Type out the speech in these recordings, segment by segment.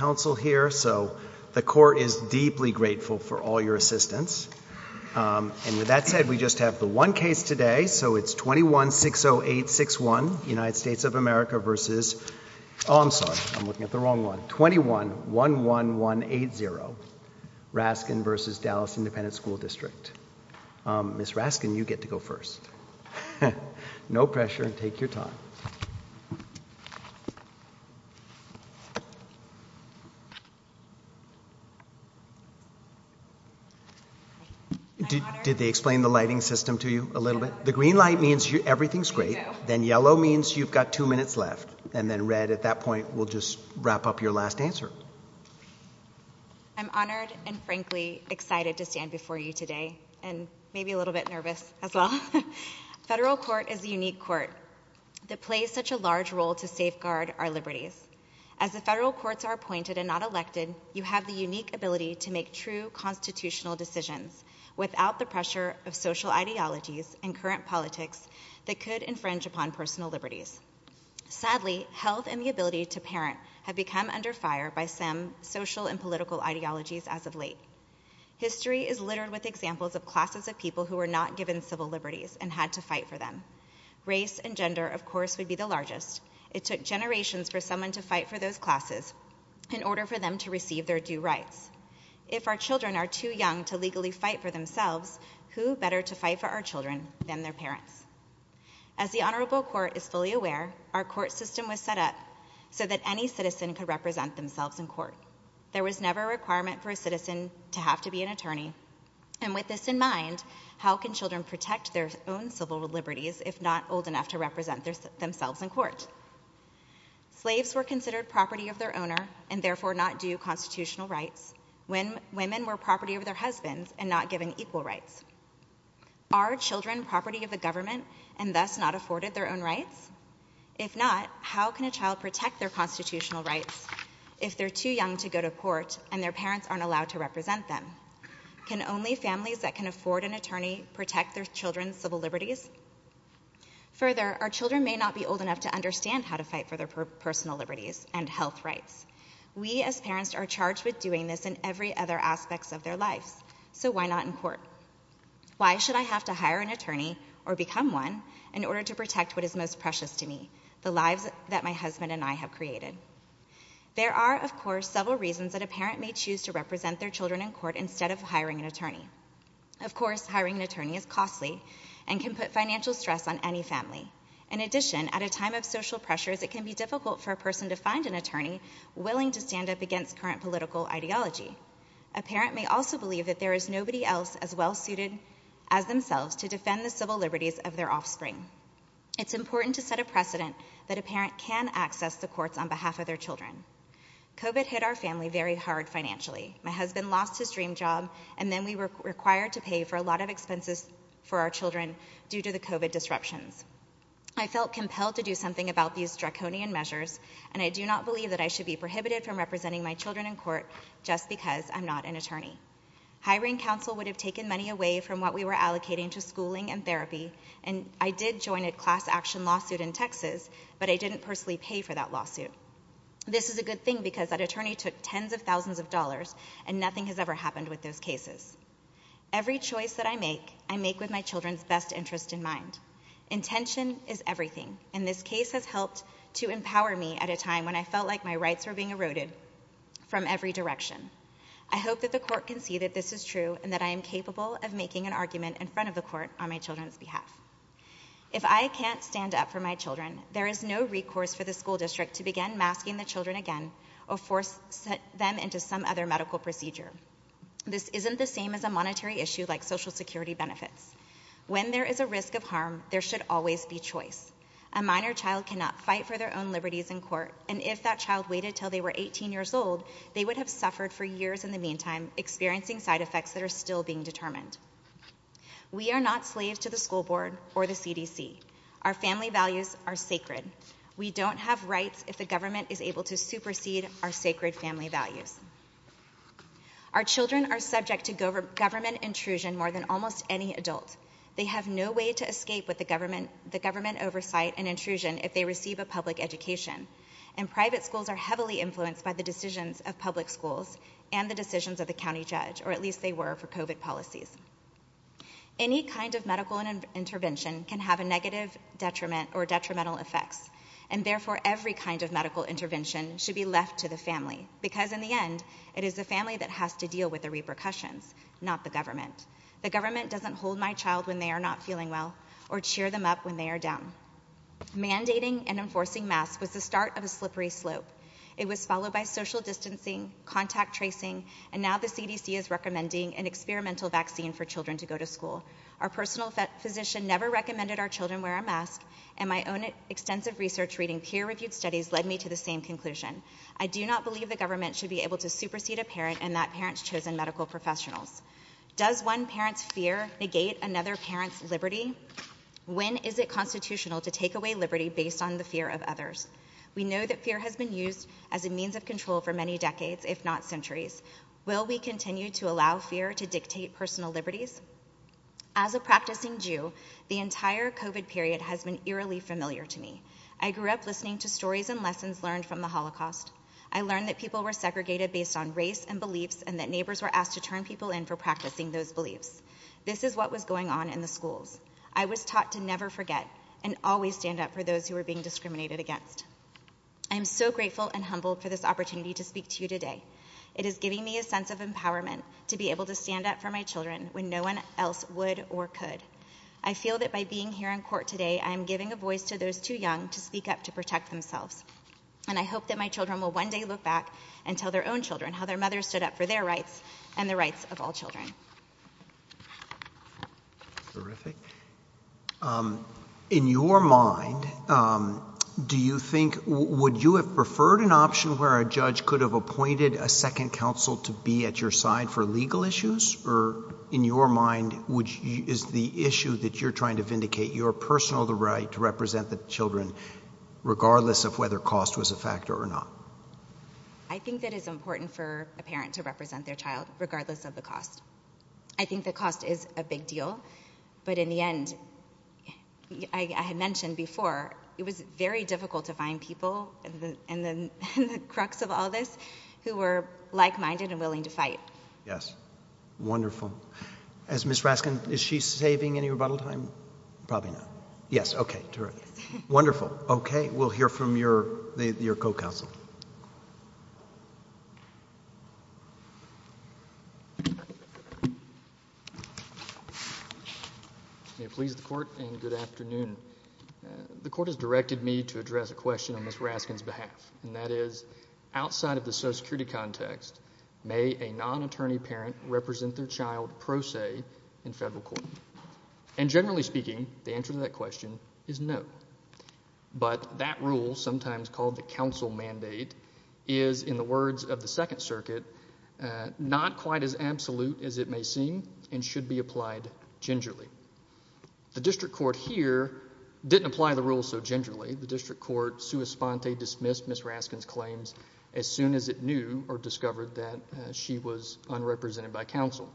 So the court is deeply grateful for all your assistance. United States of America versus, oh, I'm sorry, 21-11180, Raskin v. Dallas Independent School District. Ms. Raskin, you get to go first. No pressure, take your time. Did they explain the lighting system to you a little bit? The green light means everything's great, then yellow means you've got two minutes left, and then red at that point will just wrap up your last answer. I'm honored and frankly excited to stand before you today, and maybe a little bit nervous as well. Federal court is a unique court that plays such a large role to safeguard our liberties. As the federal courts are appointed and not elected, you have the unique ability to make true constitutional decisions without the pressure of social ideologies and current politics that could infringe upon personal liberties. Sadly, health and the ability to parent have become under fire by some social and political ideologies as of late. History is littered with examples of classes of people who were not given civil liberties and had to fight for them. Race and gender, of course, would be the largest. It took generations for someone to fight for those classes in order for them to receive their due rights. If our children are too young to legally fight for themselves, who better to fight for our children than their parents? As the honorable court is fully aware, our court system was set up so that any citizen could represent themselves in court. There was never a requirement for a citizen to have to be an attorney. And with this in mind, how can children protect their own civil liberties if not old enough to represent themselves in court? Slaves were considered property of their owner and therefore not due constitutional rights when women were property of their husbands and not given equal rights. Are children property of the government and thus not afforded their own rights? If not, how can a child protect their constitutional rights if they're too young to go to court and their parents aren't allowed to represent them? Can only families that can afford an attorney protect their children's civil liberties? Further, our children may not be old enough to understand how to fight for their personal liberties and health rights. We as parents are charged with doing this in every other aspect of their lives. So why not in court? Why should I have to hire an attorney or become one in order to protect what is most precious to me, the lives that my husband and I have created? There are, of course, several reasons that a parent may choose to represent their children in court instead of hiring an attorney. Of course, hiring an attorney is costly and can put financial stress on any family. In addition, at a time of social pressures, it can be difficult for a person to find an attorney willing to stand up against current political ideology. A parent may also believe that there is nobody else as well-suited as themselves to defend the civil liberties of their offspring. It's important to set a precedent that a parent can access the courts on behalf of their children. COVID hit our family very hard financially. My husband lost his dream job, and then we were required to pay for a lot of expenses for our children due to the COVID disruptions. I felt compelled to do something about these draconian measures, and I do not believe that I should be prohibited from representing my children in court just because I'm not an attorney. Hiring counsel would have taken money away from what we were allocating to schooling and therapy, and I did join a class-action lawsuit in Texas, but I didn't personally pay for that lawsuit. This is a good thing because that attorney took tens of thousands of dollars, and nothing has ever happened with those cases. Every choice that I make, I make with my children's best interest in mind. Intention is everything, and this case has helped to empower me at a time when I felt like my rights were being eroded from every direction. I hope that the court can see that this is true and that I am capable of making an argument in front of the court on my children's behalf. If I can't stand up for my children, there is no recourse for the school district to begin masking the children again or force them into some other medical procedure. This isn't the same as a monetary issue like Social Security benefits. When there is a risk of harm, there should always be choice. A minor child cannot fight for their own liberties in court, and if that child waited till they were 18 years old, they would have suffered for years in the meantime, experiencing side effects that are still being determined. We are not slaves to the school board or the CDC. Our family values are sacred. We don't have rights if the government is able to supersede our sacred family values. Our children are subject to government intrusion more than almost any adult. They have no way to escape with the government oversight and intrusion if they receive a public education, and private schools are heavily influenced by the decisions of public schools and the decisions of the county judge, or at least they were for COVID policies. Any kind of medical intervention can have a negative detriment or detrimental effects, and therefore every kind of medical intervention should be left to the family, because in the end, it is the family that has to deal with the repercussions, not the government. The government doesn't hold my child when they are not feeling well, or cheer them up when they are down. Mandating and enforcing masks was the start of a slippery slope. It was followed by social distancing, contact tracing, and now the CDC is recommending an experimental vaccine for children to go to school. Our personal physician never recommended our children wear a mask, and my own extensive research reading peer-reviewed studies led me to the same conclusion. I do not believe the government should be able to supersede a parent and that parent's chosen medical professionals. Does one parent's fear negate another parent's liberty? When is it constitutional to take away liberty based on the fear of others? We know that fear has been used as a means of control for many decades, if not centuries. Will we continue to allow fear to dictate personal liberties? As a practicing Jew, the entire COVID period has been eerily familiar to me. I grew up listening to stories and lessons learned from the Holocaust. I learned that people were segregated based on race and beliefs and that neighbors were asked to turn people in for practicing those beliefs. This is what was going on in the schools. I was taught to never forget and always stand up for those who were being discriminated against. I am so grateful and humbled for this opportunity to speak to you today. It is giving me a sense of empowerment to be able to stand up for my children when no one else would or could. I feel that by being here in court today, I am giving a voice to those too young to speak up to protect themselves. And I hope that my children will one day look back and tell their own children how their mothers stood up for their rights and the rights of all children. Terrific. In your mind, do you think, would you have preferred an option where a judge could have appointed a second counsel to be at your side for legal issues? Or in your mind, is the issue that you're trying to vindicate your personal right to represent the children regardless of whether cost was a factor or not? I think that it's important for a parent to represent their child regardless of the cost. I think the cost is a big deal, but in the end, I had mentioned before, it was very difficult to find people in the crux of all this who were like-minded and willing to fight. Wonderful. Ms. Raskin, is she saving any rebuttal time? Probably not. Wonderful. We'll hear from your co-counsel. May it please the Court, and good afternoon. The Court has directed me to address a question on Ms. Raskin's behalf, and that is, outside of the social security context, may a non-attorney parent represent their child pro se in federal court? And generally speaking, the answer to that question is no. But that rule, sometimes called the counsel mandate, is, in the words of the Second Circuit, not quite as absolute as it may seem, and should be applied gingerly. The District Court here didn't apply the rule so gingerly. The District Court, sua sponte, dismissed Ms. Raskin's claims as soon as it knew or discovered that she was unrepresented by counsel.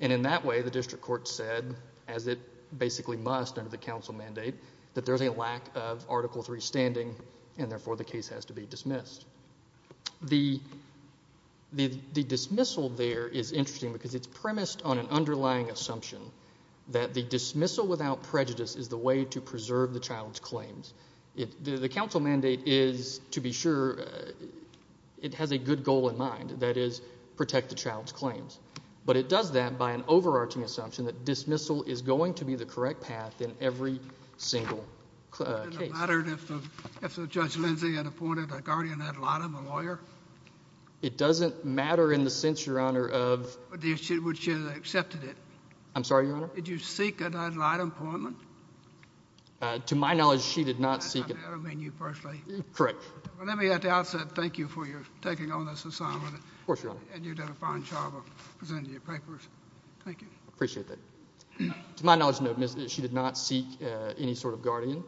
And in that way, the District Court said, as it basically must under the counsel mandate, that there's a lack of Article III standing, and therefore the case has to be dismissed. The dismissal there is interesting because it's premised on an underlying assumption that the dismissal without prejudice is the way to preserve the child's claims. The counsel mandate is, to be sure, it has a good goal in mind, that is, protect the child's claims. But it does that by an overarching assumption that dismissal is going to be the correct path in every single case. Would it have mattered if Judge Lindsay had appointed a guardian ad litem, a lawyer? Would she have accepted it? I'm sorry, Your Honor? Did you seek an ad litem appointment? To my knowledge, she did not seek it. Correct. Thank you for taking on this assignment. And you did a fine job of presenting your papers. Thank you. Appreciate that. To my knowledge, she did not seek any sort of guardian.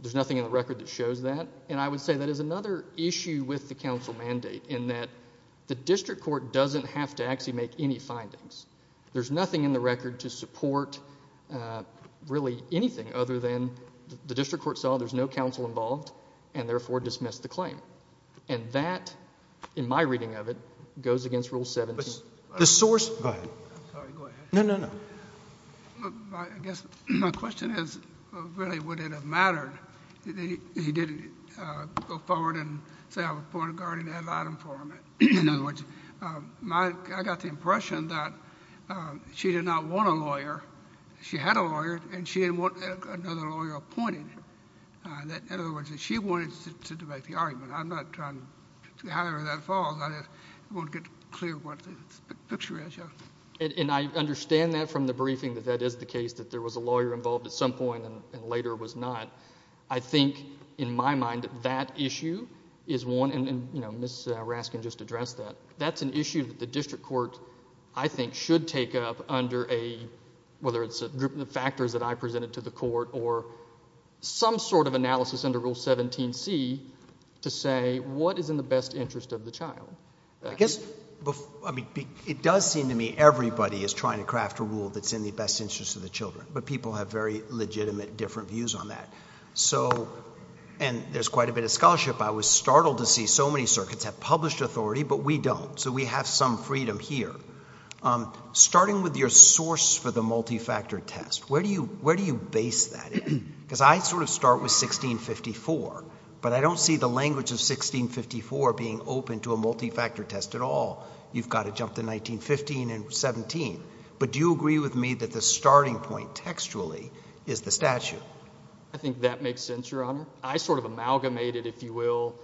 There's nothing in the record that shows that. And I would say that is another issue with the counsel mandate, in that the District Court doesn't have to actually make any findings. There's nothing in the record to support really anything other than the District Court saw there's no counsel involved, and therefore dismissed the claim. And that, in my reading of it, goes against Rule 17. Go ahead. No, no, no. My question is, really, would it have mattered if he didn't go forward and say I appointed a guardian ad litem for him? In other words, I got the impression that she did not want a lawyer. She had a lawyer, and she didn't want another lawyer appointed. In other words, she wanted to debate the argument. I'm not trying to... I won't get clear what the picture is. And I understand that from the briefing, that that is the case, that there was a lawyer involved at some point, and later was not. I think, in my mind, that issue is one, and Ms. Raskin just addressed that. That's an issue that the District Court, I think, should take up under a, whether it's the factors that I presented to the Court, or some sort of analysis under Rule 17c to say what is in the best interest of the child. It does seem to me everybody is trying to craft a rule that's in the best interest of the children, but people have very legitimate, different views on that. So, and there's quite a bit of scholarship. I was startled to see so many circuits have published authority, but we don't, so we have some freedom here. Starting with your source for the multi-factor test, where do you base that? Because I sort of start with 1654, but I don't see the language of 1654 being open to a multi-factor test at all. You've got to jump to 1915 and 17. But do you agree with me that the starting point, textually, is the statute? I think that makes sense, Your Honor. I sort of amalgamated, if you will,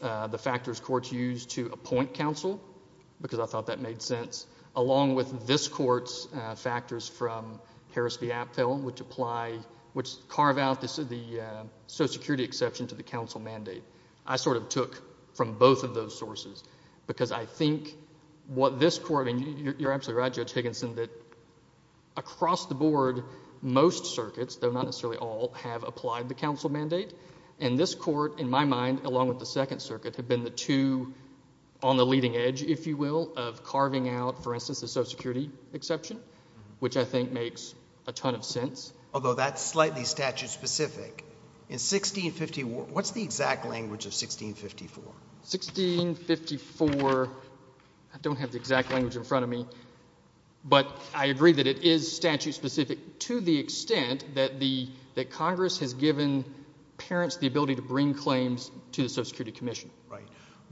the factors Courts use to appoint counsel, because I thought that made sense, along with this Court's factors from Harris v. Apfel, which apply, which carve out the social security exception to the counsel mandate. I sort of took from both of those sources, because I think what this Court, and you're absolutely right, Judge Higginson, that across the board, most circuits, though not necessarily all, have applied the counsel mandate. And this Court, in my mind, along with the Second Circuit, have been the two on the leading edge, if you will, of carving out, for instance, the social security exception, which I think makes a ton of sense. Although that's slightly statute-specific. In 1650, what's the exact language of 1654? 1654... I don't have the exact language in front of me, but I agree that it is statute-specific to the extent that Congress has given parents the ability to bring claims to the Social Security Commission. Right.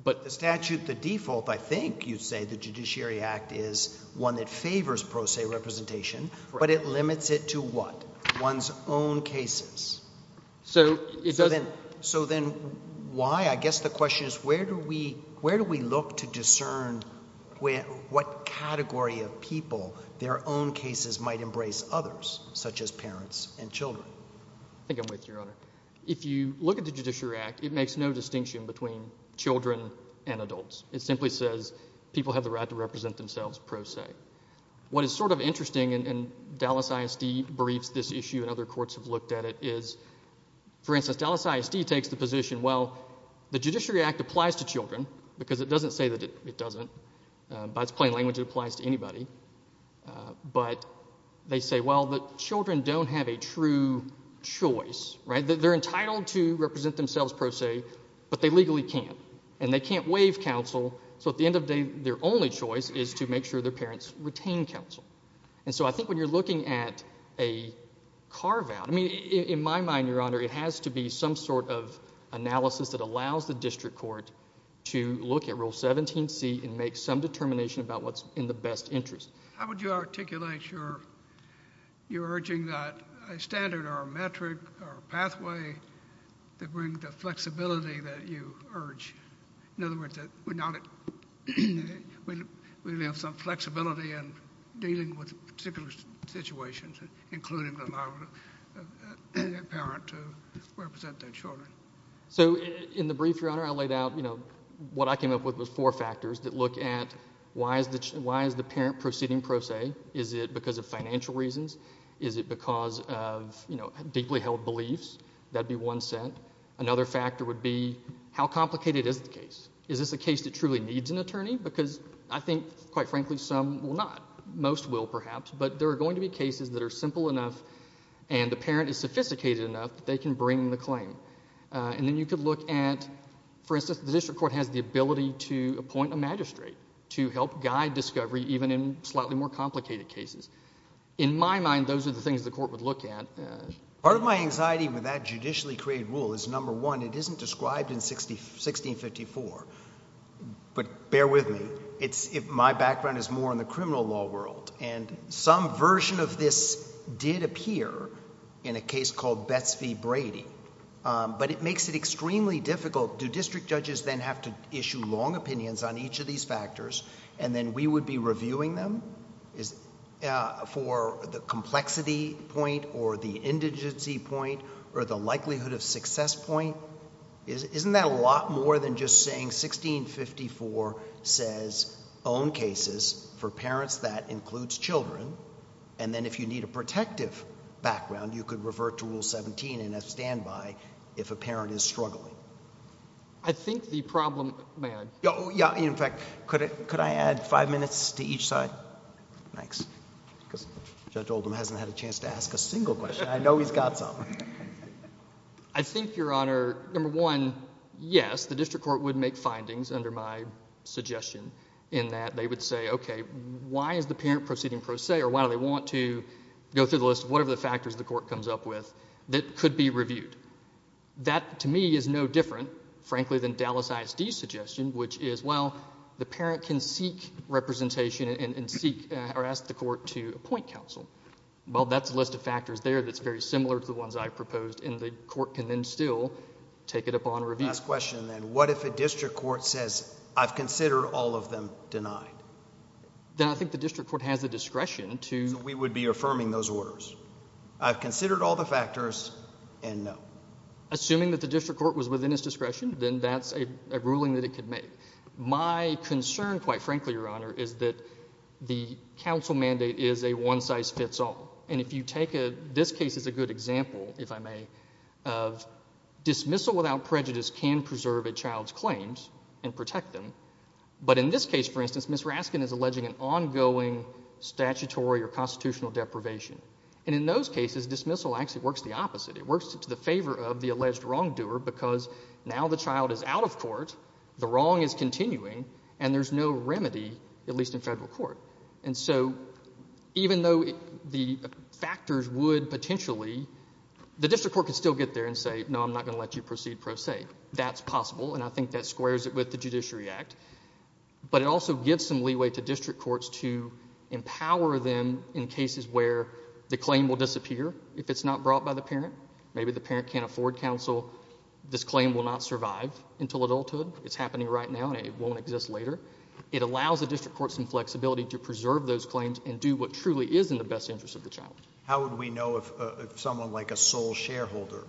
But the statute, the default, I think you'd say, the Judiciary Act is one that favors pro se representation, but it limits it to what? One's own cases. So then why? I guess the question is, where do we look to discern what category of people their own cases might embrace others, such as parents and children? I think I'm with you, Your Honor. If you look at the Judiciary Act, it makes no distinction between children and adults. It simply says people have the right to represent themselves pro se. What is sort of interesting, and Dallas ISD briefs this issue and other courts have looked at it, is, for instance, Dallas ISD takes the position, well, the Judiciary Act applies to children because it doesn't say that it doesn't. By its plain language, it applies to anybody. But they say, well, children don't have a true choice. They're entitled to represent themselves pro se, but they legally can't. And they can't waive counsel, so at the end of the day, their only choice is to make sure their parents retain counsel. And so I think when you're looking at a carve-out, I mean, in my mind, Your Honor, it has to be some sort of analysis that allows the district court to look at Rule 17C and make some determination about what's in the best interest. How would you articulate your urging that a standard or a metric or a pathway that bring the flexibility that you urge? In other words, that we now have some flexibility in dealing with particular situations, including allowing a parent to represent their children. So in the brief, Your Honor, I laid out, you know, what I came up with was four factors that look at why is the parent proceeding pro se? Is it because of financial reasons? Is it because of deeply held beliefs? That would be one set. Another factor would be how complicated is the case? Is this a case that truly needs an attorney? Because I think, quite frankly, some will not. Most will, perhaps. But there are going to be cases that are simple enough and the parent is sophisticated enough that they can bring the claim. And then you could look at, for instance, the district court has the ability to appoint a magistrate to help guide discovery even in slightly more complicated cases. In my mind, those are the things the court would look at. Part of my anxiety with that judicially created rule is, number one, it isn't described in 1654. But bear with me. My background is more in the criminal law world. And some version of this did appear in a case called Betz v. Brady. But it makes it extremely difficult. Do district judges then have to issue long opinions on each of these factors and then we would be reviewing them for the complexity point or the indigency point or the likelihood of success point? Isn't that a lot more than just saying 1654 says own cases for parents that includes children and then if you need a protective background, you could revert to rule 17 and have standby if a parent is struggling. I think the problem... May I? In fact, could I add five minutes to each side? Thanks. Because Judge Oldham hasn't had a chance to ask a single question. I know he's got some. I think, Your Honor, number one, yes, the district court would make findings under my suggestion in that they would say, okay, why is the parent proceeding pro se or why do they want to go through the list of whatever the factors the court comes up with that could be reviewed? That, to me, is no different, frankly, than Dallas ISD's suggestion, which is well, the parent can seek representation and seek or ask the court to appoint counsel. Well, that's a list of factors there that's very similar to the ones I proposed and the court can then still take it upon review. Last question then. What if a district court says, I've considered all of them denied? Then I think the district court has the discretion to... So we would be affirming those orders. I've considered all the factors and no. Assuming that the district court was within its discretion, then that's a ruling that it could make. My concern, quite frankly, Your Honor, is that the counsel mandate is a one-size-fits-all. And if you take this case as a good example, if I may, of dismissal without prejudice can preserve a child's claims and protect them, but in this case, for instance, Ms. Raskin is alleging an ongoing statutory or constitutional deprivation. And in those cases, dismissal actually works the opposite. It works to the favor of the alleged wrongdoer because now the child is out of court, the wrong is continuing, and there's no remedy, at least in federal court. And so, even though the factors would potentially... The district court could still get there and say, no, I'm not going to let you proceed pro se. That's possible, and I think that squares it with the Judiciary Act. But it also gives some leeway to district courts to empower them in cases where the claim will disappear if it's not brought by the parent. Maybe the parent can't afford counsel. This claim will not survive until adulthood. It's happening right now, and it won't exist later. It allows the district courts some flexibility to preserve those claims and do what truly is in the best interest of the child. How would we know if someone like a sole shareholder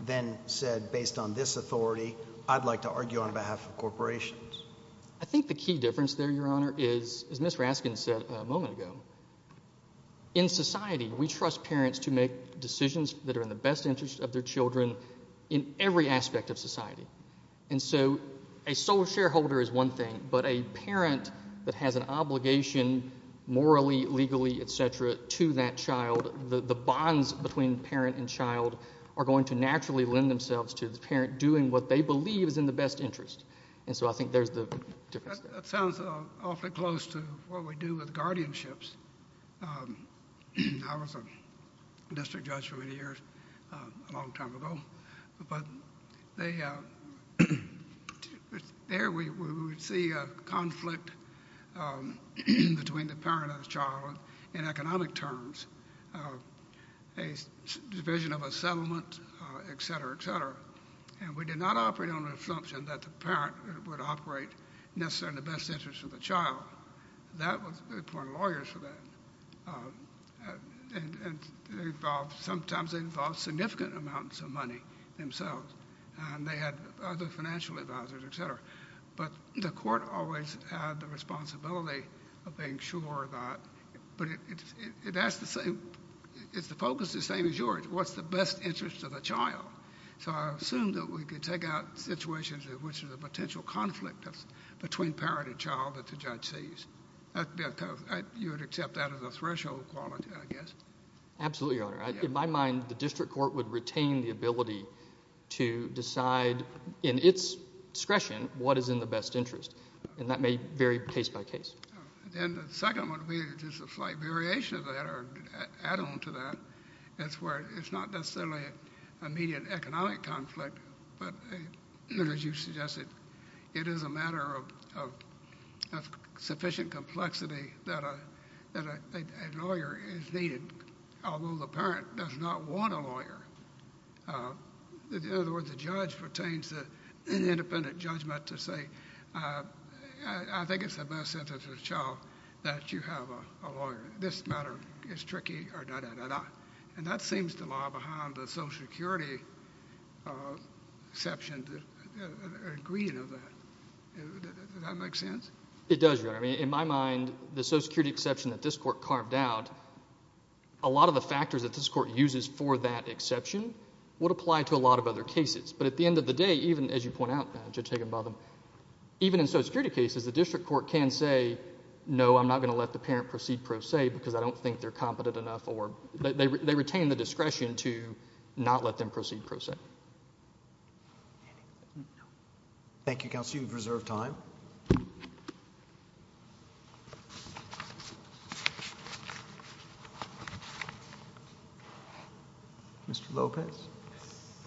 then said, based on this authority, I'd like to argue on behalf of corporations? I think the key difference there, Your Honor, is as Ms. Raskin said a moment ago, in society, we trust parents to make decisions that are in the best interest of their children in every aspect of society. And so, a sole shareholder is one thing, but a parent that has an obligation morally, legally, etc., to that child, the bonds between parent and child are going to naturally lend themselves to the parent doing what they believe is in the best interest. And so I think there's the difference there. That sounds awfully close to what we do with guardianships. I was a district judge for many years, a long time ago, but there we would see a conflict between the parent and the child in economic terms. A division of a settlement, etc., etc., and we did not operate on the assumption that the parent would operate necessarily in the best interest of the child. We appointed lawyers for that. Sometimes they involved significant amounts of money themselves, and they had other financial advisors, etc., but the court always had the responsibility of being sure that it was in the best interest of the child. But it has to say, it's the focus the same as yours. What's the best interest of the child? So I assume that we could take out situations in which there's a potential conflict between parent and child that the judge sees. You would accept that as a threshold quality, I guess. Absolutely, Your Honor. In my mind, the district court would retain the ability to decide in its discretion what is in the best interest. And that may vary case by case. And the second one would be just a slight variation of that or an add-on to that. It's where it's not necessarily an immediate economic conflict, but as you suggested, it is a matter of sufficient complexity that a lawyer is needed, although the parent does not want a lawyer. In other words, the judge retains an independent judgment to say, I think it's in the best interest of the child that you have a lawyer. This matter is tricky. And that seems to lie behind the Social Security exception or agreement of that. Does that make sense? It does, Your Honor. In my mind, the Social Security exception that this court carved out, a lot of the factors that this court uses for that exception would apply to a lot of other cases. But at the end of the day, even as you point out, Judge Higginbotham, even in Social Security cases, the district court can say, no, I'm not going to let the parent proceed pro se because I don't think they're competent enough or they retain the discretion to not let them proceed pro se. Thank you, Counsel. You have reserved time. Mr. Lopez.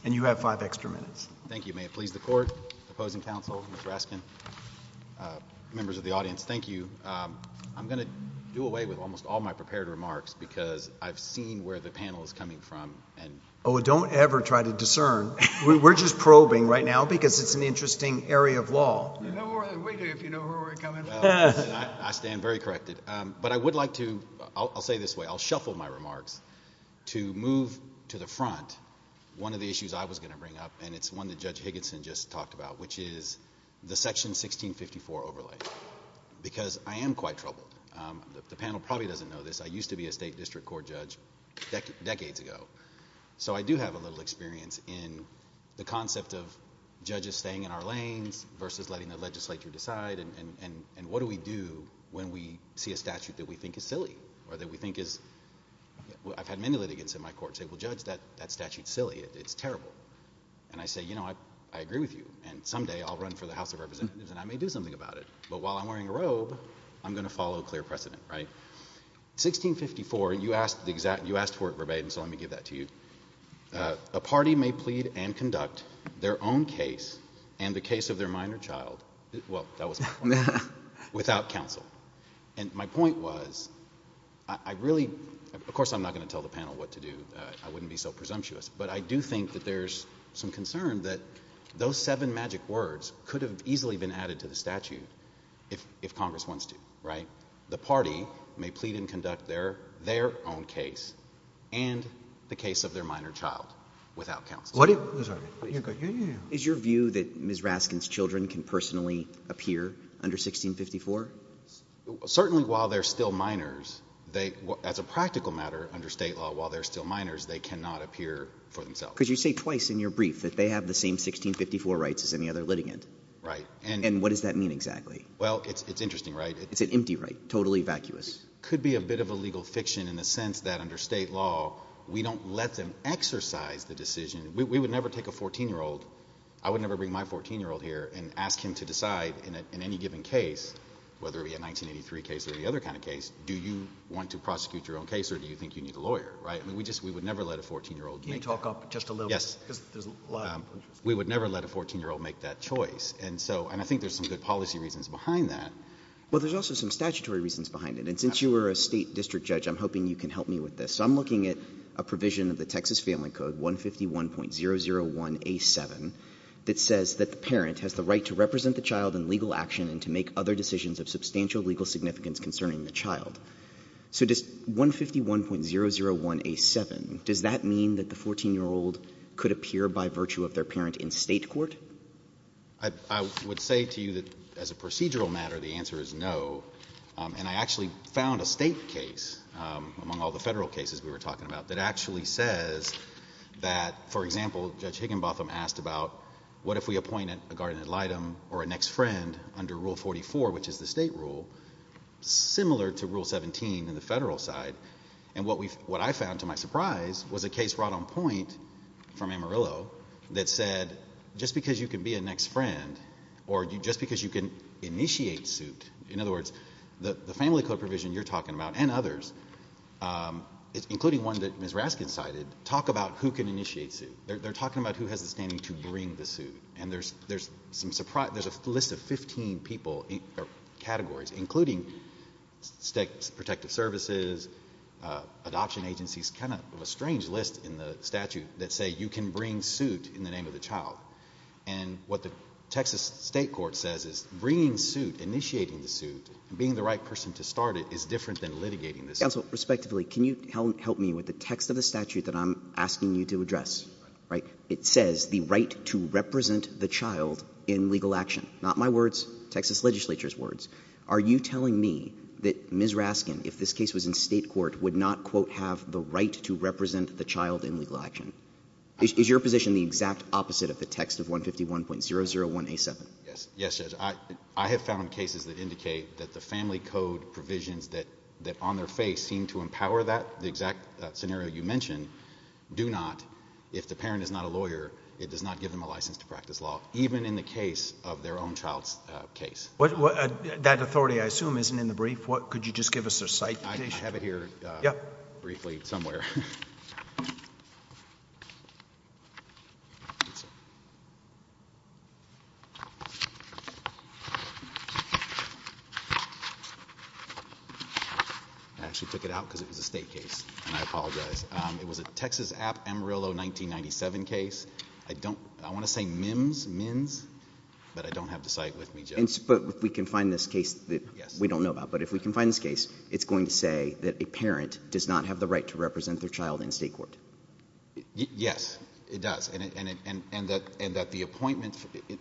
And you have five extra minutes. Thank you. May it please the Court, Opposing Counsel, Mr. Raskin, members of the audience, thank you. I'm going to do away with almost all my prepared remarks because I've seen where the panel is coming from. Oh, don't ever try to discern. We're just probing right now because it's We're just probing right now because it's an interesting area of law. We do, if you know where we're coming from. I stand very corrected. But I would like to, I'll say this way, I'll shuffle my remarks, to move to the front one of the issues I was going to bring up, and it's one that Judge Higginson just talked about, which is the Section 1654 overlay. Because I am quite troubled. The panel probably doesn't know this. I used to be a state district court judge decades ago. So I do have a little experience in the concept of judges staying in our lanes versus letting the legislature decide, and what do we do when we see a statute that we think is silly, or that we think is I've had many litigants in my court say, well, Judge, that statute's silly, it's terrible. And I say, you know, I agree with you, and someday I'll run for the House of Representatives and I may do something about it. But while I'm wearing a robe, I'm going to follow a clear precedent, right? 1654, and you asked for it verbatim, so let me give that to you. A party may plead and conduct their own case and the case of their minor child, well, that was my point, without counsel. And my point was, I really, of course I'm not going to tell the panel what to do, I wouldn't be so presumptuous, but I do think that there's some concern that those seven magic words could have easily been added to the statute if Congress wants to, right? The party may plead and conduct their own case and the case of their minor child without counsel. Is your view that Ms. Raskin's children can personally appear under 1654? Certainly while they're still minors. As a practical matter, under State law, while they're still minors, they cannot appear for themselves. Because you say twice in your brief that they have the same 1654 rights as any other litigant. Right. And what does that mean exactly? Well, it's interesting, right? It's an empty right, totally vacuous. Could be a bit of a legal fiction in the sense that under State law, we don't let them exercise the decision. We would never take a 14-year-old, I would never bring my 14-year-old here and ask him to decide in any given case, whether it be a 1983 case or any other kind of case, do you want to prosecute your own case or do you think you need a lawyer, right? We would never let a 14-year-old make that. Can you talk up just a little bit? Yes. We would never let a 14-year-old make that choice. And so, and I think there's some good policy reasons behind that. Well, there's also some statutory reasons behind it. And since you were a State district judge, I'm hoping you can help me with this. So I'm looking at a provision of the Texas Family Code 151.001A7 that says that the parent has the right to represent the child in legal action and to make other decisions of substantial legal significance concerning the child. So does 151.001A7, does that mean that the 14-year-old could appear by virtue of their parent in State court? I would say to you that as a procedural matter, the answer is no. And I actually found a State case among all the Federal cases we were talking about, that actually says that, for example, Judge Higginbotham asked about what if we appointed a guardian ad litem or a next friend under Rule 44, which is the State rule, similar to Rule 17 in the Federal side. And what I found, to my surprise, was a case brought on point from Amarillo that said, just because you can be a next friend, or just because you can initiate suit, in other words, the family code provision you're talking about, and others, including one that Ms. Raskin cited, talk about who can initiate suit. They're talking about who has the standing to bring the suit. And there's a list of 15 people or categories, including protective services, adoption agencies, kind of a strange list in the statute that say you can bring suit in the name of the child. And what the Texas State court says is bringing suit, initiating the suit, being the right person to start it, is different than litigating the suit. Counsel, respectively, can you help me with the text of the statute that I'm asking you to address? It says the right to represent the child in legal action. Not my words, Texas legislature's words. Are you telling me that Ms. Raskin, if this case was in State court, would not quote, have the right to represent the child in legal action? Is your position the exact opposite of the text of 151.001A7? Yes, Judge. I have found cases that indicate that the family code provisions that on their face seem to empower that, the exact scenario you mentioned, do not. If the parent is not a lawyer, it does not give them a license to practice law, even in the case of their own child's case. That authority, I assume, isn't in the brief. Could you just give us their citation? I have it here briefly somewhere. I actually took it out because it was a State case, and I apologize. It was a Texas App. Amarillo 1997 case. I don't I want to say MIMS, but I don't have the cite with me, Judge. But if we can find this case that we don't know about, but if we can find this case, it's going to say that a parent does not have the right to represent their child in it does, and that the appointment,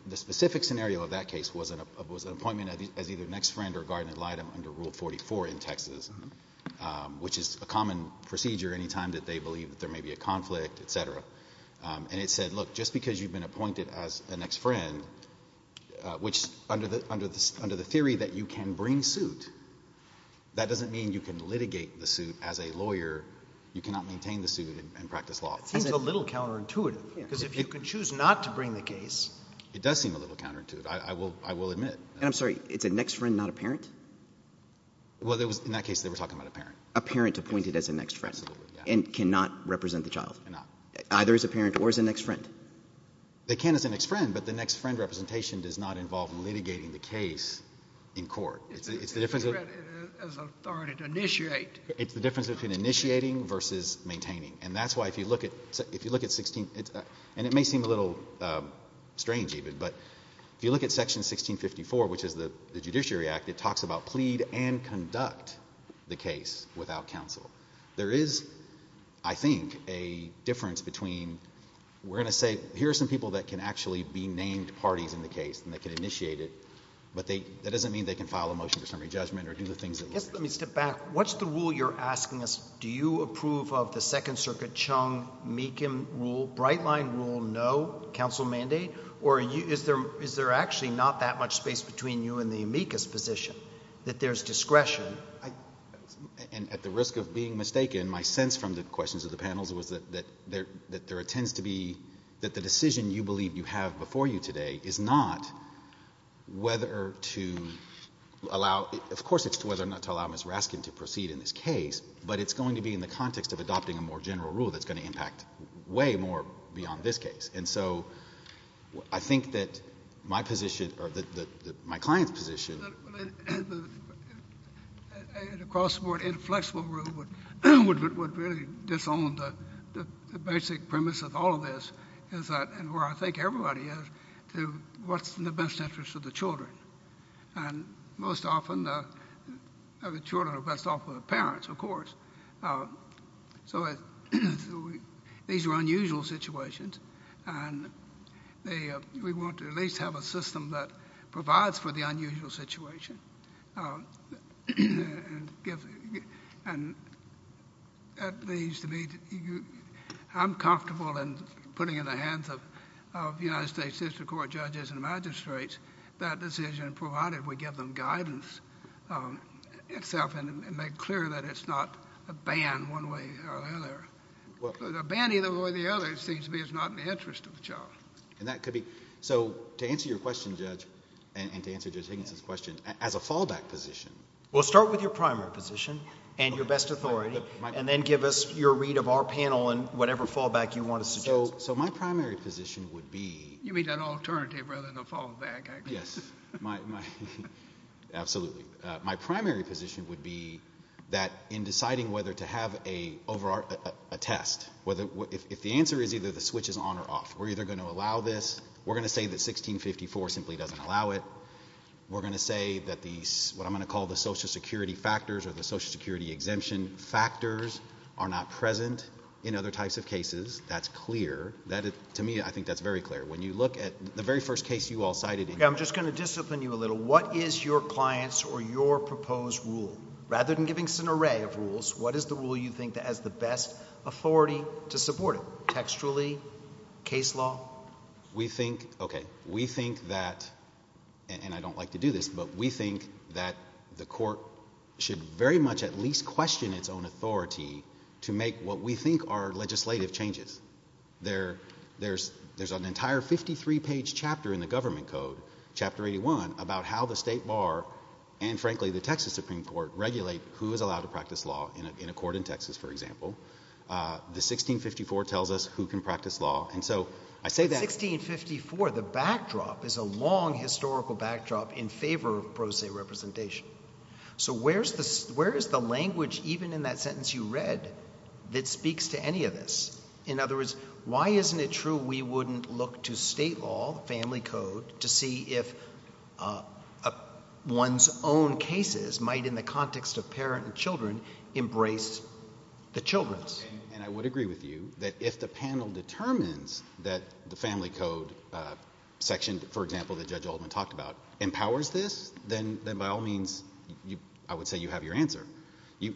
the specific scenario is that the parent the scenario of that case was an appointment as either an ex-friend or guardian ad litem under Rule 44 in Texas, which is a common procedure any time that they believe that there may be a conflict, et cetera. And it said, look, just because you've been appointed as an ex-friend, which under the theory that you can bring suit, that doesn't mean you can litigate the suit as a lawyer. You cannot maintain the suit and practice law. It seems a little counterintuitive, because if you can choose not to bring the case... It does seem a little counterintuitive, I will admit. And I'm sorry, it's an ex-friend, not a parent? Well, in that case, they were talking about a parent. A parent appointed as an ex-friend? Absolutely, yeah. And cannot represent the child? Cannot. Either as a parent or as an ex-friend? They can as an ex-friend, but the ex-friend representation does not involve litigating the case in court. It's the difference... As authority to initiate. It's the difference between initiating versus maintaining. And that's why, if you look at Section 16... And it may seem a little strange, even, but if you look at Section 1654, which is the Judiciary Act, it talks about plead and conduct the case without counsel. There is, I think, a difference between... We're going to say, here are some people that can actually be named parties in the case, and they can initiate it, but that doesn't mean they can file a motion for summary judgment or do the things that lawyers do. Let me step back. What's the rule you're asking us, do you approve of the Brightline rule, no, counsel mandate, or is there actually not that much space between you and the amicus position, that there's discretion? At the risk of being mistaken, my sense from the questions of the panels was that there tends to be... That the decision you believe you have before you today is not whether to allow... Of course, it's whether or not to allow Ms. Raskin to proceed in this case, but it's going to be in the context of adopting a more beyond this case, and so I think that my position, or my client's position... The crossword inflexible rule would really disown the basic premise of all of this, is that, and where I think everybody is, to what's in the best interest of the children, and most often, the children are best off with the parents, of course. So these are unusual situations, and we want to at least have a system that provides for the unusual situation. At least to me, I'm comfortable in putting it in the hands of the United States District Court judges and magistrates that decision, provided we give them guidance itself, and make clear that it's not a ban one way or the other. A ban either way or the other seems to me is not in the interest of the child. And that could be... So, to answer your question, Judge, and to answer Judge Higginson's question, as a fallback position... Well, start with your primary position and your best authority, and then give us your read of our panel and whatever fallback you want to suggest. So my primary position would be... You mean an alternative rather than a fallback, I guess. Yes, my... Absolutely. My primary position would be that in deciding whether to have a test, if the answer is either the switch is on or off, we're either going to allow this, we're going to say that 1654 simply doesn't allow it, we're going to say that the, what I'm going to call the social security factors or the social security exemption factors are not present in other types of cases. That's clear. To me, I think that's very clear. When you look at the very first case you all cited... Yeah, I'm just going to discipline you a little. What is your client's or your proposed rule? Rather than giving us an array of rules, what is the rule you think has the best authority to support it? Textually? Case law? We think, okay, we think that, and I don't like to do this, but we think that the court should very much at least question its own authority to make what we think are legislative changes. There's an entire 53-page chapter in the government code, chapter 81, about how the state bar and, frankly, the Texas Supreme Court regulate who is allowed to practice law in a court in Texas, for example. The 1654 tells us who can practice law, and so I say that... But 1654, the backdrop is a long historical backdrop in favor of pro se representation. So where is the language, even in that sentence you read, that speaks to any of this? In other words, why isn't it true we wouldn't look to state law, family code, to see if one's own cases might, in the context of parent and children, embrace the children's? And I would agree with you that if the panel determines that the family code section, for example, that Judge Altman talked about, empowers this, then by all means I would say you have your answer.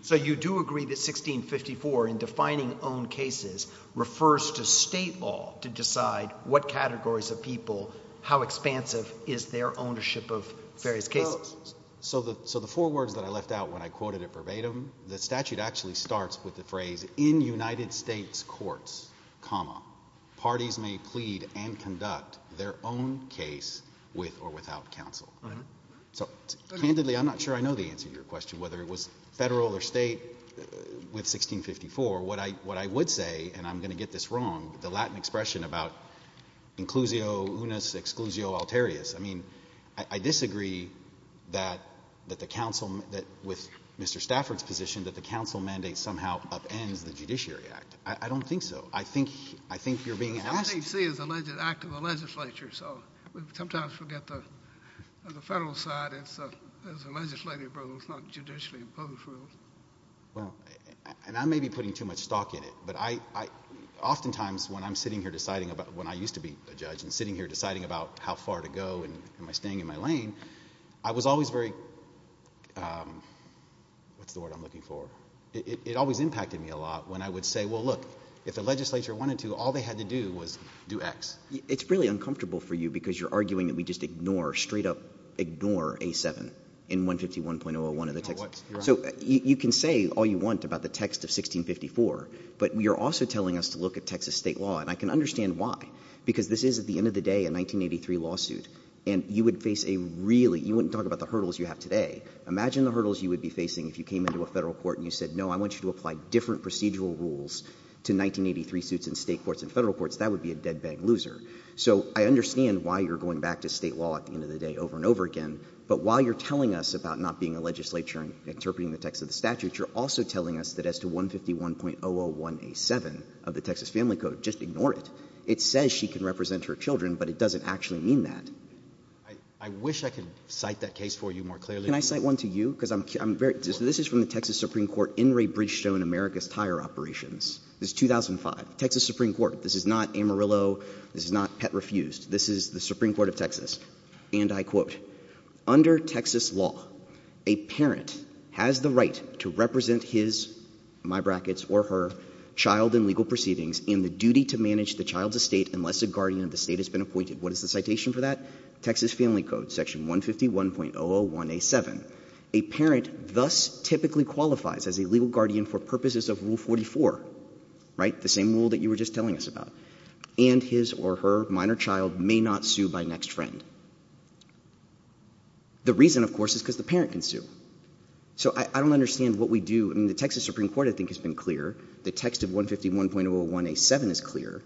So you do agree that 1654 in defining own cases refers to state law to decide what categories of people, how expansive is their ownership of various cases? So the four words that I left out when I quoted it verbatim, the statute actually starts with the phrase, in United States courts, parties may plead and conduct their own case with or without counsel. So candidly, I'm not sure I know the answer to your question, whether it was federal or state with 1654. What I would say, and I'm going to get this question about inclusio unus exclusio alterius. I disagree that with Mr. Stafford's position that the counsel mandate somehow upends the judiciary act. I don't think so. I think you're being asked. The act of the legislature, so sometimes we get the federal side as a legislative rule, it's not a judicially imposed rule. Well, and I may be putting too much stock in it, but oftentimes when I'm sitting here deciding about when I used to be a judge and sitting here deciding about how far to go and am I staying in my lane, I was always very what's the word I'm looking for? It always impacted me a lot when I would say, well, look, if the legislature wanted to, all they had to do was do X. It's really uncomfortable for you because you're arguing that we just ignore, straight up ignore A7 in 151.01 of the text. So you can say all you want about the text of 1654, but you're also telling us to look at Texas state law, and I can understand why. Because this is, at the end of the day, a 1983 lawsuit, and you would face a really, you wouldn't talk about the hurdles you have today. Imagine the hurdles you would be facing if you came into a federal court and you said, no, I want you to apply different procedural rules to 1983 suits in state courts and federal courts. That would be a dead-bang loser. So I understand why you're going back to state law at the end of the day over and over again, but while you're telling us about not being a legislature and interpreting the text of the statute, you're also telling us that as to 151.001A7 of the Texas Family Code, just ignore it. It says she can represent her children, but it doesn't actually mean that. I wish I could cite that case for you more clearly. Can I cite one to you? Because this is from the Texas Supreme Court, In re Bridgestone, America's Tire Operations. This is 2005. Texas Supreme Court. This is not Amarillo. This is not Pet Refused. This is the Supreme Court of Texas. And I quote, Under Texas law, a parent has the right to represent his, my brackets, or her child in legal proceedings in the duty to manage the child's estate unless a guardian of the state has been appointed. What is the citation for that? Texas Family Code, section 151.001A7. A parent thus typically qualifies as a legal guardian for purposes of Rule 44, right? The same rule that you were just telling us about. And his or her minor child may not sue by next friend. The reason, of course, is because the parent can sue. So I don't understand what we do. I mean, the Texas Supreme Court, I think, has been clear. The text of 151.001A7 is clear.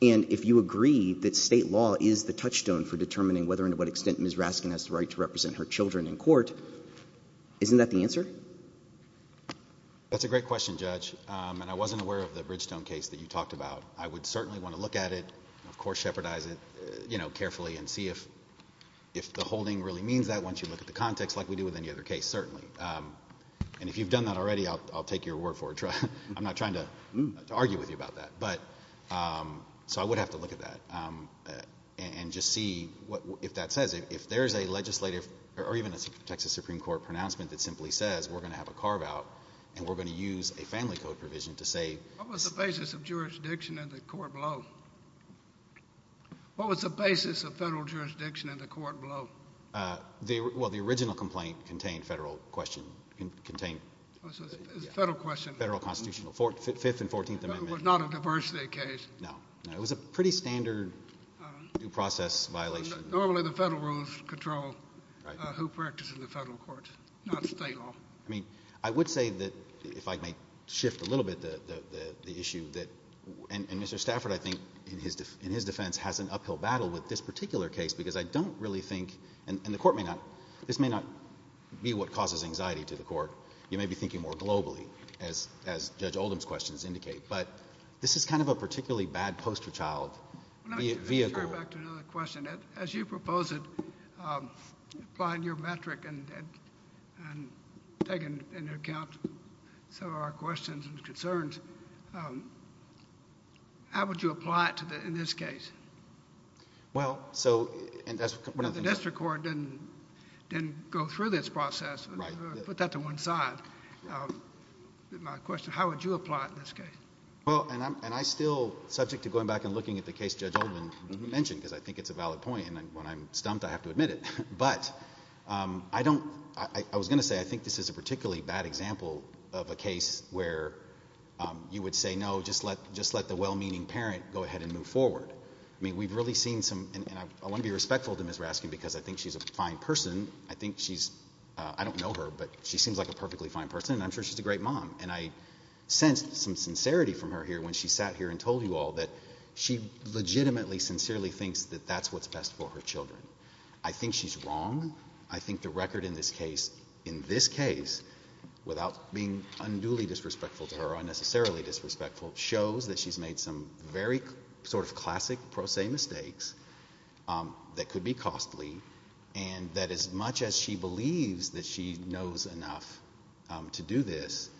And if you agree that state law is the touchstone for determining whether and to what extent Ms. Raskin has the right to represent her children in court, isn't that the answer? That's a great question, Judge. And I wasn't aware of the Bridgestone case that you talked about. I would certainly want to look at it, of course shepherdize it, you know, carefully and see if the holding really means that once you look at the context like we do with any other case, certainly. And if you've done that already, I'll take your word for it. I'm not trying to argue with you about that. So I would have to look at that and just see if that says, if there's a legislative or even a Texas Supreme Court pronouncement that simply says, we're going to have a carve-out and we're going to use a family code provision to say... What was the basis of jurisdiction in the court below? What was the basis of federal jurisdiction in the court below? Well, the original complaint contained federal question... It was a federal question. Federal constitutional, 5th and 14th Amendment. It was not a diversity case. No, it was a pretty standard due process violation. Normally the federal rules control who practices in the federal courts, not state law. I mean, I would say that, if I may shift a little bit, the issue that... And Mr. Stafford, I think, in his defense, has an uphill battle with this particular case, because I don't really think... And the court may not... This may not be what causes anxiety to the court. You may be thinking more globally, as Judge Oldham's questions indicate. But this is kind of a particularly bad poster child vehicle. Let me turn back to another question. As you proposed it, applying your metric and taking into account some of our questions and concerns, how would you apply it in this case? Well, so... The district court didn't go through this process. Put that to one side. My question, how would you apply it in this case? And I'm still subject to going back and looking at the case Judge Oldham mentioned, because I think it's a valid point. And when I'm stumped, I have to admit it. But I was going to say, I think this is a particularly bad example of a case where you would say, no, just let the well-meaning parent go ahead and move forward. I mean, we've really seen some... And I want to be respectful to Ms. Raskin, because I think she's a fine person. I think she's... I don't know her, but she seems like a perfectly fine person, and I'm sure she's a great mom. And I sensed some sincerity from her here when she sat here and told you all that she legitimately, sincerely thinks that that's what's best for her children. I think she's wrong. I think the record in this case, in this case, without being unduly disrespectful to her or unnecessarily disrespectful, shows that she's made some very sort of classic pro se mistakes that could be costly, and that as much as she believes that she knows enough to do this,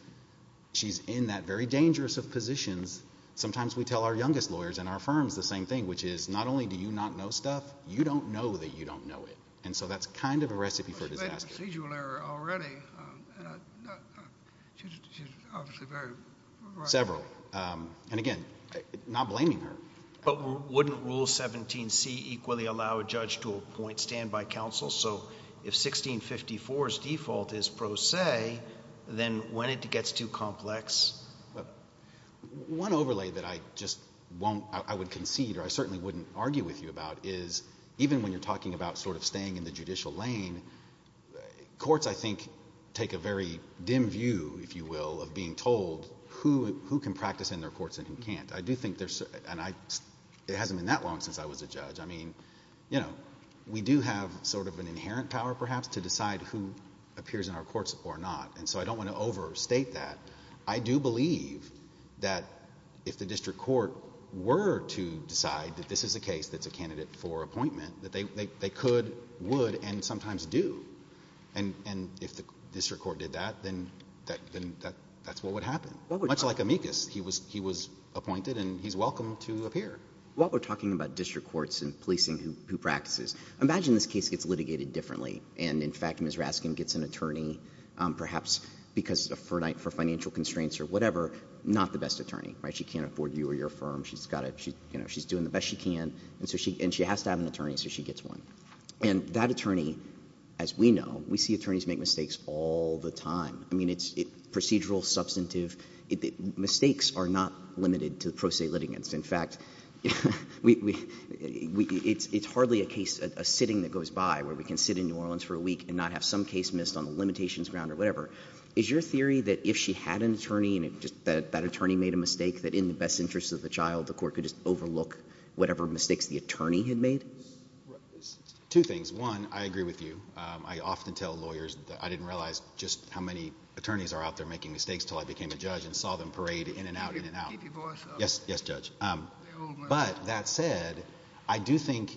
she's in that very dangerous of positions. Sometimes we tell our youngest lawyers in our firms the same thing, which is, not only do you not know stuff, you don't know that you don't know it. And so that's kind of a recipe for disaster. She's a procedural error already. She's obviously very right. Several. And again, not blaming her. But wouldn't Rule 17C equally allow a judge to appoint standby counsel? So if 1654's default is pro se, then when it gets too complex... One overlay that I just won't, I would concede or I certainly wouldn't argue with you about is even when you're talking about sort of the judicial lane, courts, I think, take a very dim view, if you will, of being told who can practice in their courts and who can't. I do think there's... It hasn't been that long since I was a judge. I mean, you know, we do have sort of an inherent power, perhaps, to decide who appears in our courts or not. And so I don't want to overstate that. I do believe that if the district court were to decide that this is a case that's a candidate for appointment, that they could, would, and sometimes do. And if the district court did that, then that's what would happen. Much like Amicus. He was appointed and he's welcome to appear. While we're talking about district courts and policing who practices, imagine this case gets litigated differently. And in fact, Ms. Raskin gets an attorney, perhaps because of financial constraints or whatever, not the best attorney. She can't afford you or your firm. She's doing the best she can. And she has to have an attorney, so she gets one. And that attorney, as we know, we see attorneys make mistakes all the time. I mean, it's procedural, substantive. Mistakes are not limited to pro se litigants. In fact, it's hardly a case, a sitting that goes by where we can sit in New Orleans for a week and not have some case missed on the limitations ground or whatever. Is your theory that if she had an attorney and that attorney made a mistake that in the best interest of the child, the court could just overlook whatever mistakes the attorney had made? Two things. One, I agree with you. I often tell lawyers that I didn't realize just how many attorneys are out there making mistakes until I became a judge and saw them parade in and out, in and out. Yes, Judge. But that said, I do think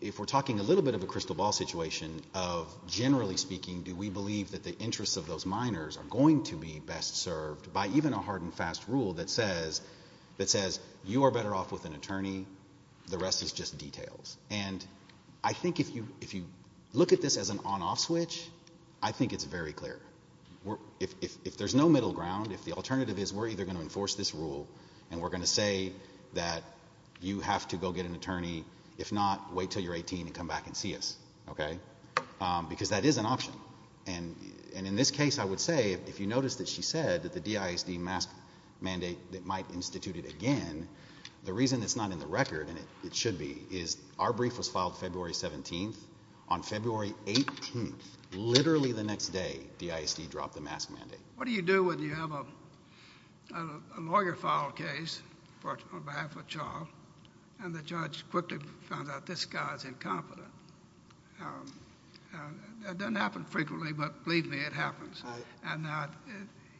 if we're talking a little bit of a crystal ball situation of, generally speaking, do we believe that the interests of those minors are going to be best served by even a hard and fast rule that says you are better off with an attorney. The rest is just details. I think if you look at this as an on-off switch, I think it's very clear. If there's no middle ground, if the alternative is we're either going to enforce this rule and we're going to say that you have to go get an attorney. If not, wait until you're 18 and come back and see us. Okay? Because that is an option. In this case, I would say, if you notice that she said that the DISD mask mandate might institute it again, the reason it's not in the record and it should be, is our brief was filed February 17th. On February 18th, literally the next day, DISD dropped the mask mandate. What do you do when you have a lawyer file a case on behalf of a child and the judge quickly finds out this guy is incompetent? That doesn't happen frequently, but believe me, it happens.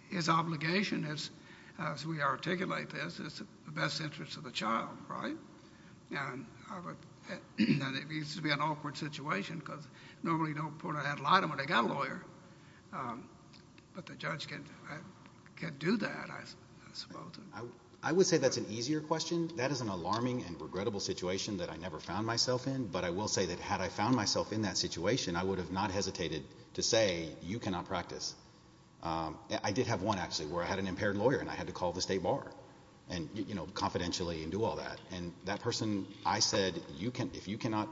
His obligation is, as we articulate this, is the best interest of the child. Right? It used to be an awkward situation because normally you don't put a headlight on when they got a lawyer. But the judge can't do that, I suppose. I would say that's an easier question. That is an alarming and regrettable situation that I never found myself in, but I will say that had I found myself in that situation, I would have not hesitated to say, you cannot practice. I did have one, actually, where I had an impaired lawyer and I had to call the state bar, confidentially, and do all that. And that person, I said, if you cannot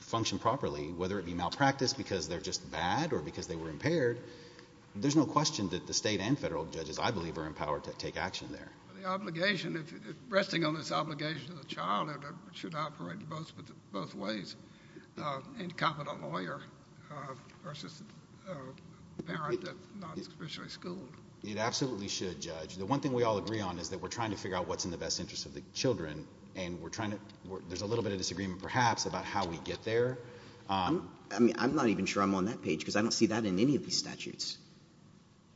function properly, whether it be malpractice because they're just bad or because they were impaired, there's no question that the state and federal judges, I believe, are empowered to take action there. Resting on this obligation to the child, it should operate both ways. A competent lawyer versus a parent that's not officially schooled. It absolutely should, Judge. The one thing we all agree on is that we're trying to figure out what's in the best interest of the children, and there's a little bit of disagreement perhaps about how we get there. I'm not even sure I'm on that page because I don't see that in any of these statutes.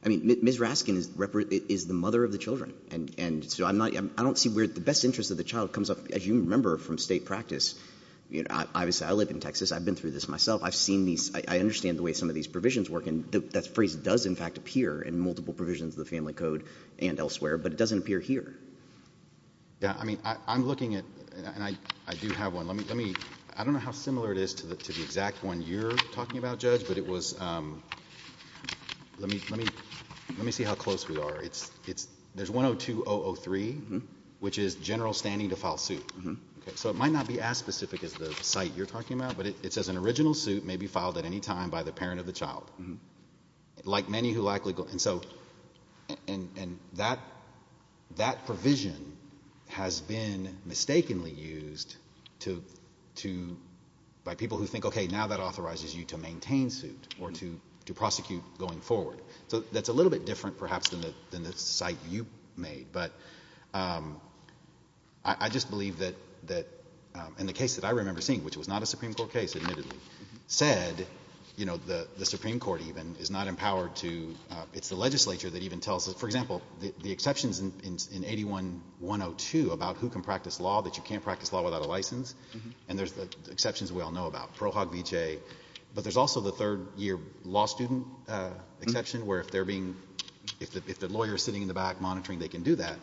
Ms. Raskin is the mother of the children, and so I don't see where the best interest of the child comes up, as you remember from state practice. I live in Texas. I've been through this myself. I understand the way some of these provisions work, and that phrase does in fact appear in multiple provisions of the Family Code and elsewhere, but it doesn't appear here. I'm looking at and I do have one. I don't know how similar it is to the exact one you're talking about, Judge, but it was let me see how close we are. There's 102-003, which is it might not be as specific as the site you're talking about, but it says an original suit may be filed at any time by the parent of the child, like many who likely and so that provision has been mistakenly used by people who think okay, now that authorizes you to maintain suit or to prosecute going forward, so that's a little bit different perhaps than the site you made, but I just believe that in the case that I remember seeing, which was not a Supreme Court case admittedly, said the Supreme Court even is not empowered to, it's the legislature that even tells, for example, the exceptions in 81-102 about who can practice law, that you can't practice law without a license, and there's exceptions we all know about, Pro Hoc Vitae, but there's also the third year law student exception where if they're being, if the lawyer's sitting in the back monitoring, they can do that.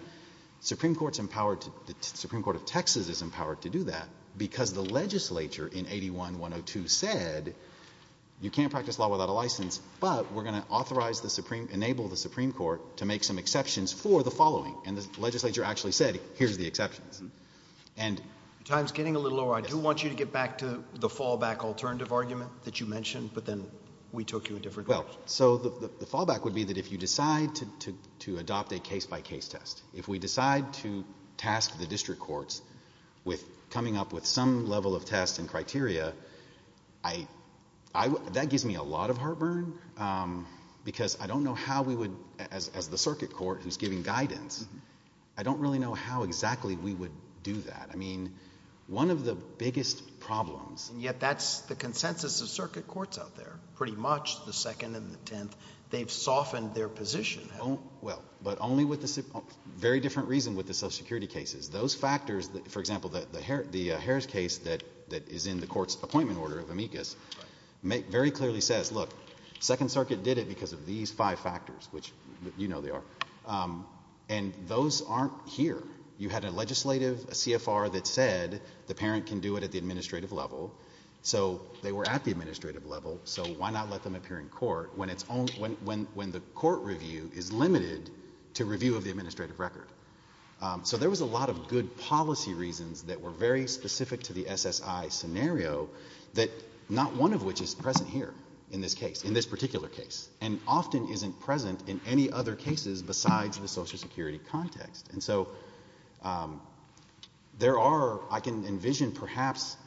Supreme Court's empowered, the Supreme Court of Texas is empowered to do that because the legislature in 81-102 said you can't practice law without a license, but we're going to authorize the Supreme, enable the Supreme Court to make some exceptions for the following, and the legislature actually said here's the exceptions. Time's getting a little over. I do want you to get back to the fallback alternative argument that you mentioned, but then we took you a different direction. Well, so the fallback would be that if you decide to adopt a case-by-case test, if we decide to task the district courts with coming up with some level of test and criteria, that gives me a lot of heartburn because I don't know how we would, as the circuit court who's giving guidance, I don't really know how exactly we would do that. I mean, one of the biggest problems And yet that's the consensus of circuit courts out there, pretty much, the second and the tenth, they've softened their position. Well, but only with a very different reason with the Social Security cases. Those factors that, for example, the Harris case that is in the court's appointment order of amicus, very clearly says, look, Second Circuit did it because of these five factors, which you know they are, and those aren't here. You had a legislative CFR that said the parent can do it at the administrative level, so they were at the administrative level. like you're in court when the court review is limited to review of the administrative record. So there was a lot of good policy reasons that were very specific to the SSI scenario that not one of which is present here in this case, in this particular case, and often isn't present in any other cases besides the Social Security context. And so there are, I can envision perhaps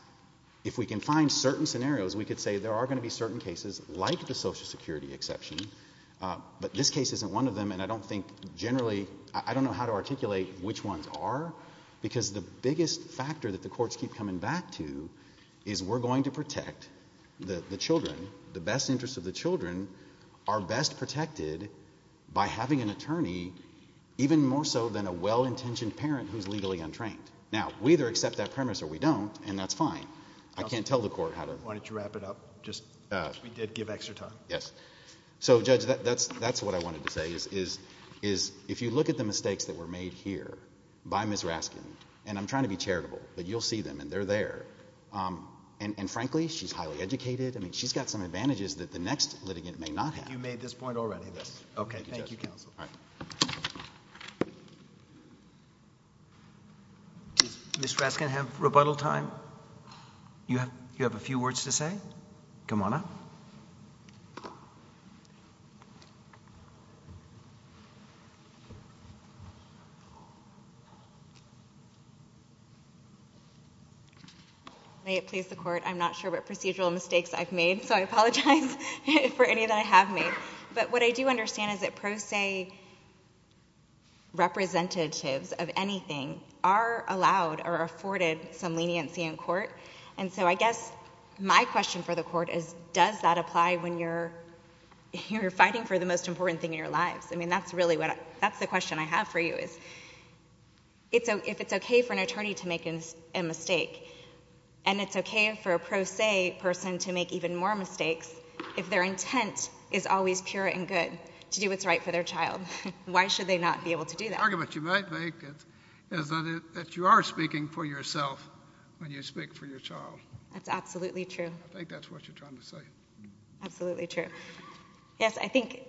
if we can find certain scenarios, we could say there are going to be certain cases like the Social Security exception, but this case isn't one of them, and I don't think generally, I don't know how to articulate which ones are, because the biggest factor that the courts keep coming back to is we're going to protect the children. The best interests of the children are best protected by having an attorney, even more so than a well-intentioned parent who's legally untrained. Now, we either accept that premise or we don't, and that's fine. I can't tell the court how to... Why don't you wrap it up? We did give extra time. So Judge, that's what I wanted to say, is if you look at the mistakes that were made here by Ms. Raskin, and I'm trying to be charitable, but you'll see them, and they're there, and frankly, she's highly educated, she's got some advantages that the next litigant may not have. You made this point already, so I'm happy with this. Okay, thank you, Counsel. Does Ms. Raskin have rebuttal time? You have a few words to say? Come on up. May it please the Court, I'm not sure what procedural mistakes I've made, so I apologize for any that I have made. But what I do understand is that pro se representatives of anything are allowed or afforded some leniency in court, and so I guess my question for the Court is does that apply when you're fighting for the most important thing in your lives? I mean, that's really the question I have for you, is if it's okay for an attorney to make a mistake, and it's okay for a pro se person to make even more mistakes, if their intent is always pure and good to do what's right for their child, why should they not be able to do that? The argument you might make is that you are speaking for yourself when you speak for your child. That's absolutely true. Absolutely true. Yes, I think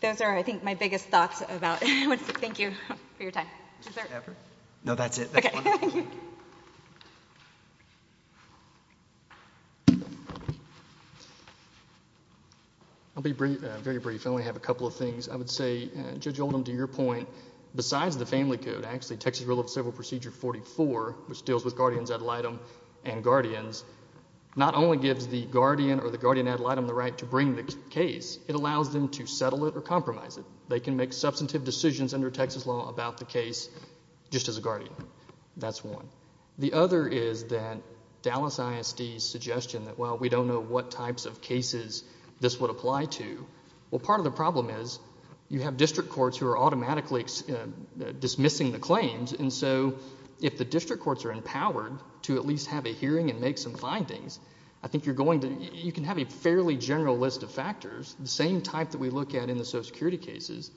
those are, I think, my biggest thoughts about Thank you for your time. No, that's it. Thank you. I'll be very brief. I only have a couple of things. I would say, Judge Oldham, to your point, besides the Family Code, actually, Texas Rule of Civil Procedure 44, which deals with guardians ad litem and guardians, not only gives the guardian or the guardian ad litem the right to bring the case, it allows them to settle it or compromise it. They can make substantive decisions under Texas law about the case just as a guardian. That's one. The other is that Alice ISD's suggestion that, well, we don't know what types of cases this would apply to. Well, part of the problem is you have district courts who are automatically dismissing the claims, and so if the district courts are empowered to at least have a hearing and make some findings, I think you're going to, you can have a fairly general list of factors, the same type that we look at in the social security cases,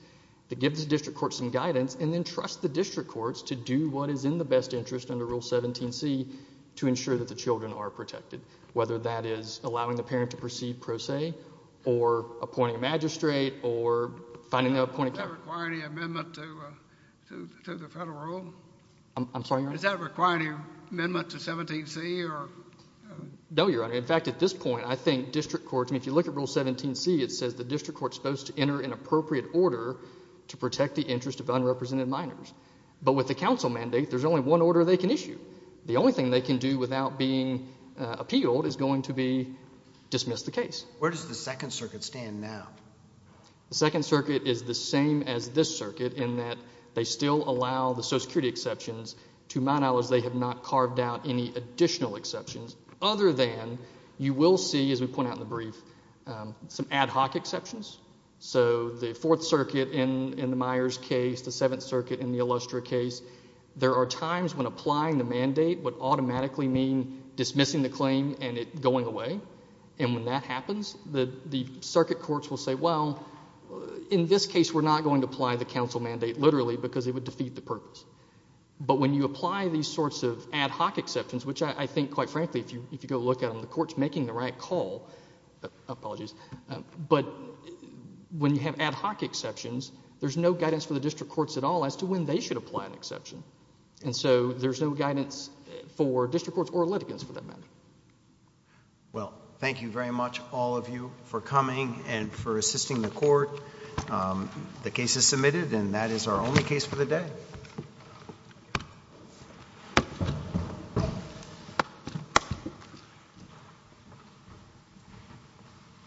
to give the district courts some guidance and then trust the district courts to do what is in the best interest under Rule 17C to ensure that the children are protected, whether that is allowing the parent to proceed pro se or appointing a magistrate or finding an appointed... Does that require any amendment to the federal rule? I'm sorry, Your Honor? Does that require any amendment to 17C or... No, Your Honor. In fact, at this point, I think district courts, I mean, if you look at Rule 17C, it says the district court's supposed to enter an appropriate order to protect the interest of unrepresented minors, but with the council mandate, there's only one order they can issue. The only thing they can do without being appealed is going to be dismiss the case. Where does the Second Circuit stand now? The Second Circuit is the same as this circuit in that they still allow the social security exceptions to minors they have not carved out any additional exceptions, other than you will see, as we point out in the brief, some ad hoc exceptions, so the Fourth Circuit in the Myers case, the Seventh Circuit in the Illustra case, there are times when applying the mandate would automatically mean dismissing the claim and it going away, and when that happens, the circuit courts will say, well, in this case, we're not going to apply the council mandate, literally, because it would defeat the purpose. But when you apply these sorts of ad hoc exceptions, which I think, quite frankly, if you go look at them, the court's making the right call. Apologies. But when you have ad hoc exceptions, there's no guidance for the district courts at all as to when they should apply an exception. And so there's no guidance for district courts or litigants for that matter. Well, thank you very much, all of you, for coming and for assisting the court. The case is submitted and that is our only case for the day.